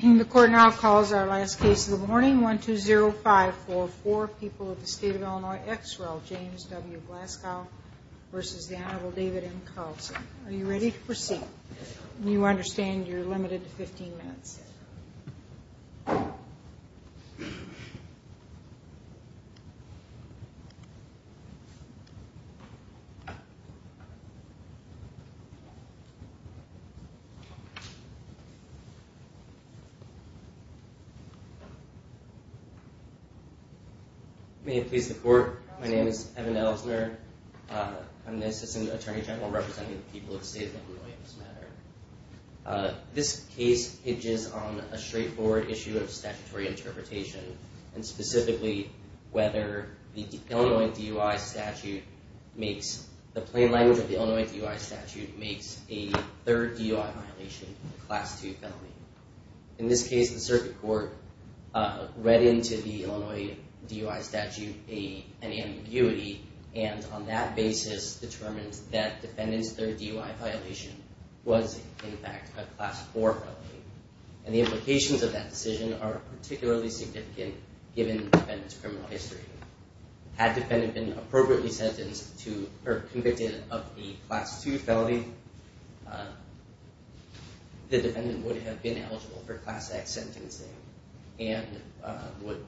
The court now calls our last case of the morning, 120544, People of the State of Illinois ex rel. James W. Glasgow v. the Honorable David M. Carlson. Are you ready to proceed? You understand you're limited to 15 minutes. May it please the court, my name is Evan Ellsner. I'm the Assistant Attorney General representing the People of the State of Illinois in this matter. This case hinges on a straightforward issue of statutory interpretation and specifically whether the Illinois DUI statute makes, the plain language of the Illinois DUI statute makes a third DUI violation a Class II felony. In this case the circuit court read into the Illinois DUI statute an ambiguity and on that basis determined that defendant's third DUI violation was in fact a Class IV felony. And the implications of that decision are particularly significant given the defendant's criminal history. Had defendant been appropriately sentenced to, or convicted of a Class II felony, the defendant would have been eligible for Class X sentencing and would,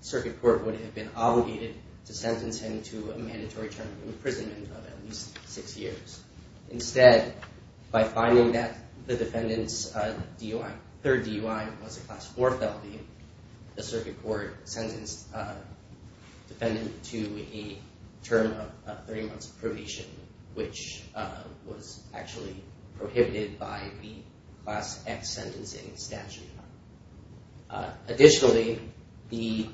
circuit court would have been obligated to sentence him to a mandatory term of imprisonment of at least six years. Instead, by finding that the defendant's third DUI was a Class IV felony, the circuit court sentenced the defendant to a term of 30 months of probation, which was actually prohibited by the Class X sentencing statute. Additionally, the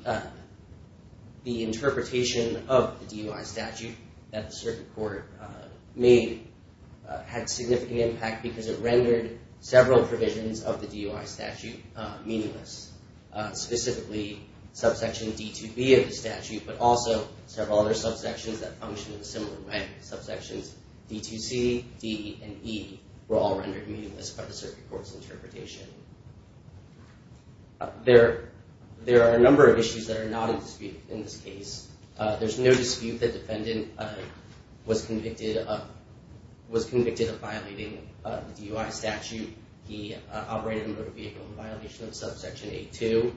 interpretation of the DUI statute that the circuit court made had significant impact because it rendered several provisions of the DUI statute meaningless. Specifically, subsection D2B of the statute, but also several other subsections that function in a similar way. Subsections D2C, D, and E were all rendered meaningless by the circuit court's interpretation. There are a number of issues that are not in dispute in this case. There's no dispute that defendant was convicted of violating the DUI statute. He operated a motor vehicle in violation of subsection A2.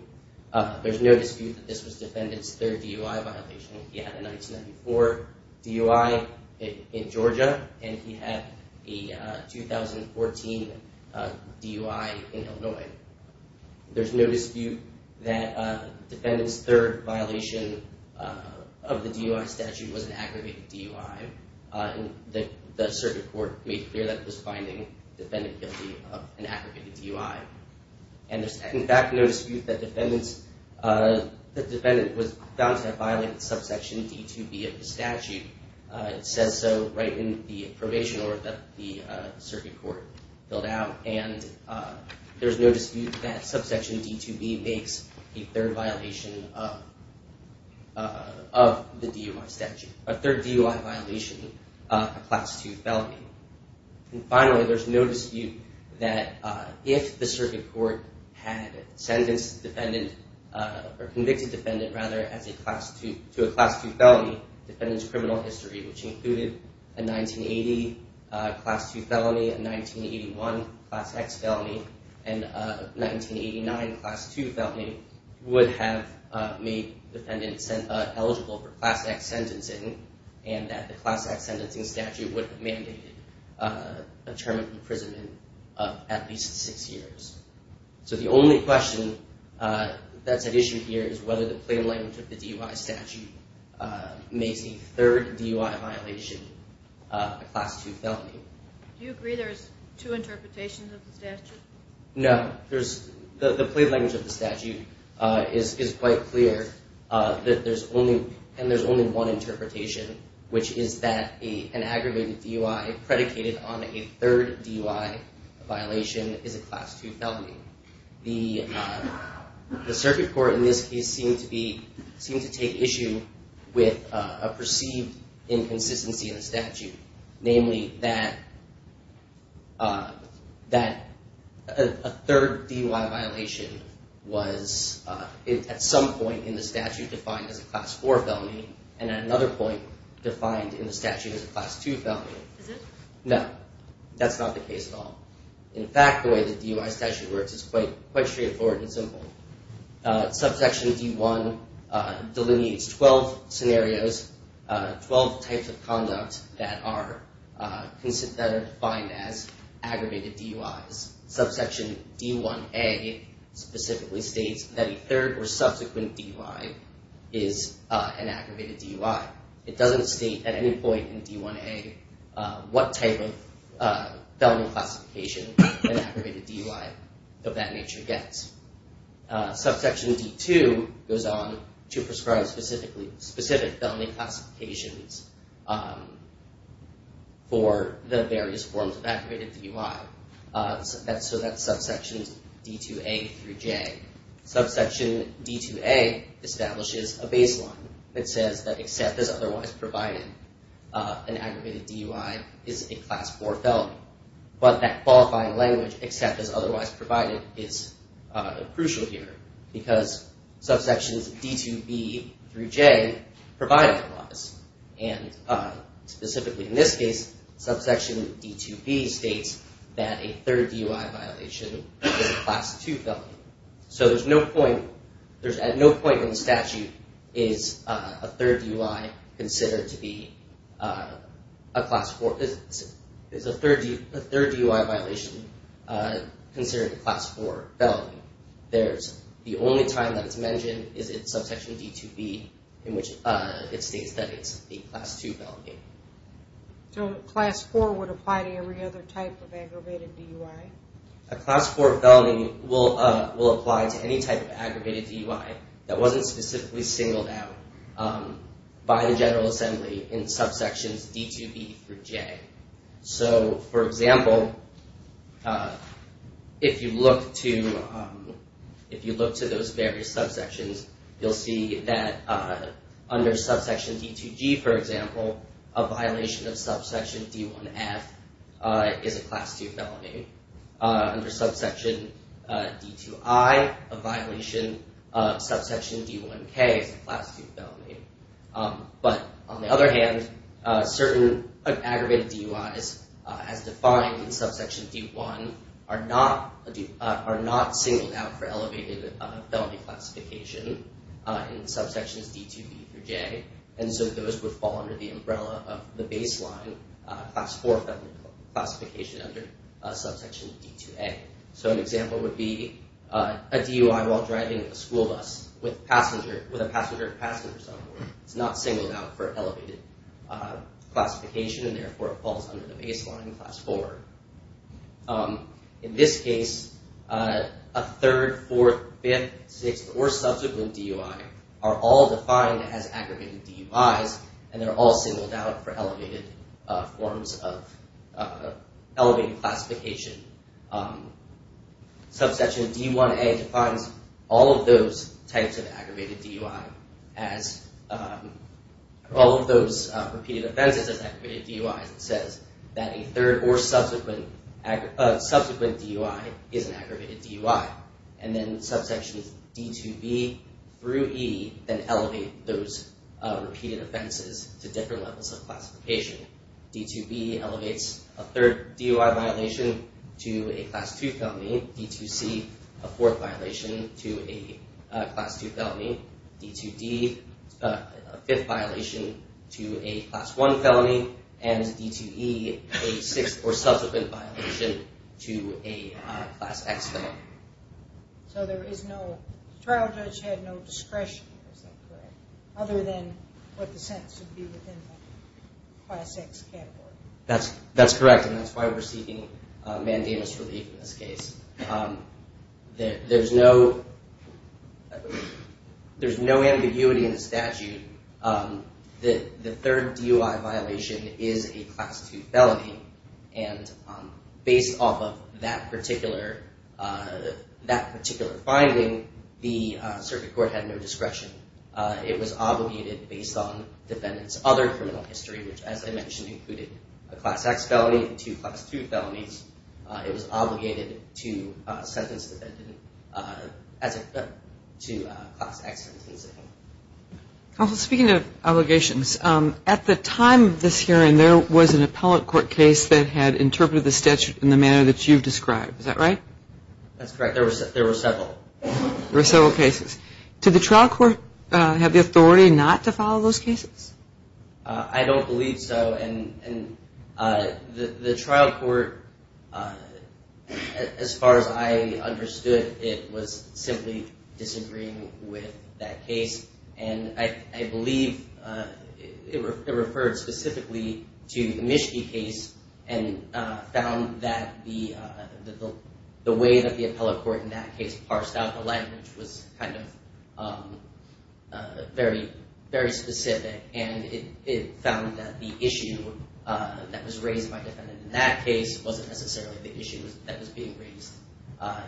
There's no dispute that this was defendant's third DUI violation. He had a 1994 DUI in Georgia, and he had a 2014 DUI in Illinois. There's no dispute that defendant's third violation of the DUI statute was an aggravated DUI. The circuit court made clear that it was finding defendant guilty of an aggravated DUI. And there's, in fact, no dispute that defendant was found to have violated subsection D2B of the statute. It says so right in the probation order that the circuit court filled out. And there's no dispute that subsection D2B makes a third violation of the DUI statute, a third DUI violation of Class II felony. And finally, there's no dispute that if the circuit court had sentenced defendant, or convicted defendant, rather, to a Class II felony, defendant's criminal history, which included a 1980 Class II felony, a 1981 Class X felony, and a 1989 Class II felony, would have made defendant eligible for Class X sentencing, and that the Class X sentencing statute would have mandated a term of imprisonment of at least six years. So the only question that's at issue here is whether the plain language of the DUI statute makes a third DUI violation a Class II felony. Do you agree there's two interpretations of the statute? No. The plain language of the statute is quite clear, and there's only one interpretation, which is that an aggravated DUI predicated on a third DUI violation is a Class II felony. The circuit court in this case seemed to take issue with a perceived inconsistency in the statute, namely that a third DUI violation was at some point in the statute defined as a Class IV felony, and at another point defined in the statute as a Class II felony. Is it? No. That's not the case at all. In fact, the way the DUI statute works is quite straightforward and simple. Subsection D1 delineates 12 scenarios, 12 types of conduct that are defined as aggravated DUIs. Subsection D1a specifically states that a third or subsequent DUI is an aggravated DUI. It doesn't state at any point in D1a what type of felony classification an aggravated DUI of that nature gets. Subsection D2 goes on to prescribe specific felony classifications for the various forms of aggravated DUI. So that's subsection D2a through J. Subsection D2a establishes a baseline that says that, except as otherwise provided, an aggravated DUI is a Class IV felony. But that qualifying language, except as otherwise provided, is crucial here, because subsections D2b through J provide a clause. And specifically in this case, subsection D2b states that a third DUI violation is a Class II felony. So there's no point, at no point in the statute is a third DUI considered to be a Class IV, is a third DUI violation considered a Class IV felony. The only time that it's mentioned is in subsection D2b in which it states that it's a Class II felony. So a Class IV would apply to every other type of aggravated DUI? A Class IV felony will apply to any type of aggravated DUI that wasn't specifically singled out by the General Assembly in subsections D2b through J. So, for example, if you look to those various subsections, you'll see that under subsection D2g, for example, a violation of subsection D1f is a Class II felony. Under subsection D2i, a violation of subsection D1k is a Class II felony. But on the other hand, certain aggravated DUIs as defined in subsection D1 are not singled out for elevated felony classification in subsections D2b through J. And so those would fall under the umbrella of the baseline Class IV felony classification under subsection D2a. So an example would be a DUI while driving a school bus with a passenger of passengers on board. It's not singled out for elevated classification, and therefore it falls under the baseline Class IV. In this case, a third, fourth, fifth, sixth, or subsequent DUI are all defined as aggravated DUIs, and they're all singled out for elevated forms of elevated classification. Subsection D1a defines all of those types of aggravated DUI as all of those repeated offenses as aggravated DUIs. It says that a third or subsequent DUI is an aggravated DUI. And then subsections D2b through E then elevate those repeated offenses to different levels of classification. D2b elevates a third DUI violation to a Class II felony. D2c, a fourth violation to a Class II felony. D2d, a fifth violation to a Class I felony. And D2e, a sixth or subsequent violation to a Class X felony. So there is no trial judge had no discretion, is that correct? Other than what the sentence would be within the Class X category. That's correct, and that's why we're seeking mandamus relief in this case. There's no ambiguity in the statute that the third DUI violation is a Class II felony. And based off of that particular finding, the circuit court had no discretion. It was obligated based on defendants' other criminal history, which, as I mentioned, included a Class X felony and two Class II felonies. It was obligated to sentence the defendant to a Class X sentencing. Counsel, speaking of obligations, at the time of this hearing, there was an appellate court case that had interpreted the statute in the manner that you've described. Is that right? That's correct. There were several. There were several cases. Did the trial court have the authority not to follow those cases? I don't believe so, and the trial court, as far as I understood, it was simply disagreeing with that case. And I believe it referred specifically to the Mischke case and found that the way that the appellate court in that case parsed out the language was kind of very specific, and it found that the issue that was raised by the defendant in that case wasn't necessarily the issue that was being raised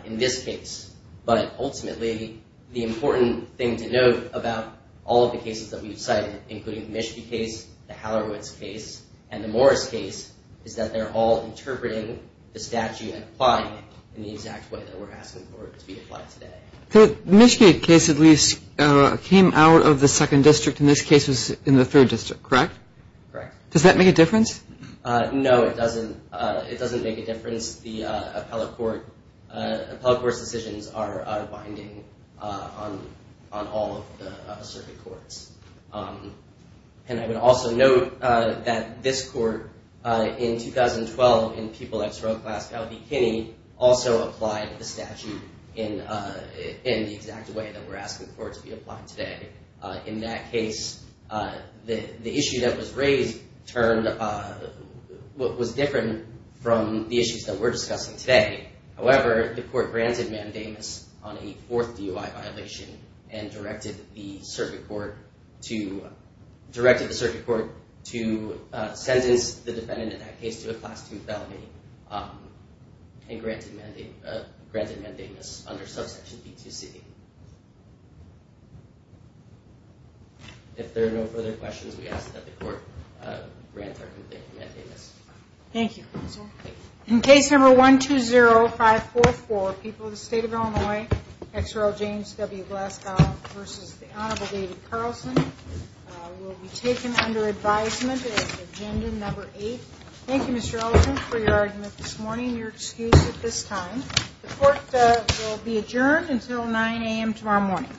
in this case. But ultimately, the important thing to note about all of the cases that we've cited, including the Mischke case, the Hallowoods case, and the Morris case, is that they're all interpreting the statute and applying it in the exact way that we're asking for it to be applied today. The Mischke case, at least, came out of the second district, and this case was in the third district, correct? Correct. Does that make a difference? No, it doesn't. It doesn't make a difference. The appellate court's decisions are binding on all of the circuit courts. And I would also note that this court, in 2012, in People X Road, Glasgow v. Kinney, also applied the statute in the exact way that we're asking for it to be applied today. In that case, the issue that was raised was different from the issues that we're discussing today. However, the court granted mandamus on a fourth DUI violation and directed the circuit court to sentence the defendant in that case to a Class II felony and granted mandamus under subsection B2C. If there are no further questions, we ask that the court grant or complete mandamus. Thank you, counsel. In case number 120544, People of the State of Illinois, X Road, James W. Glasgow v. The Honorable David Carlson, will be taken under advisement as agenda number eight. Thank you, Mr. Ellison, for your argument this morning and your excuse at this time. The court will be adjourned until 9 a.m. tomorrow morning.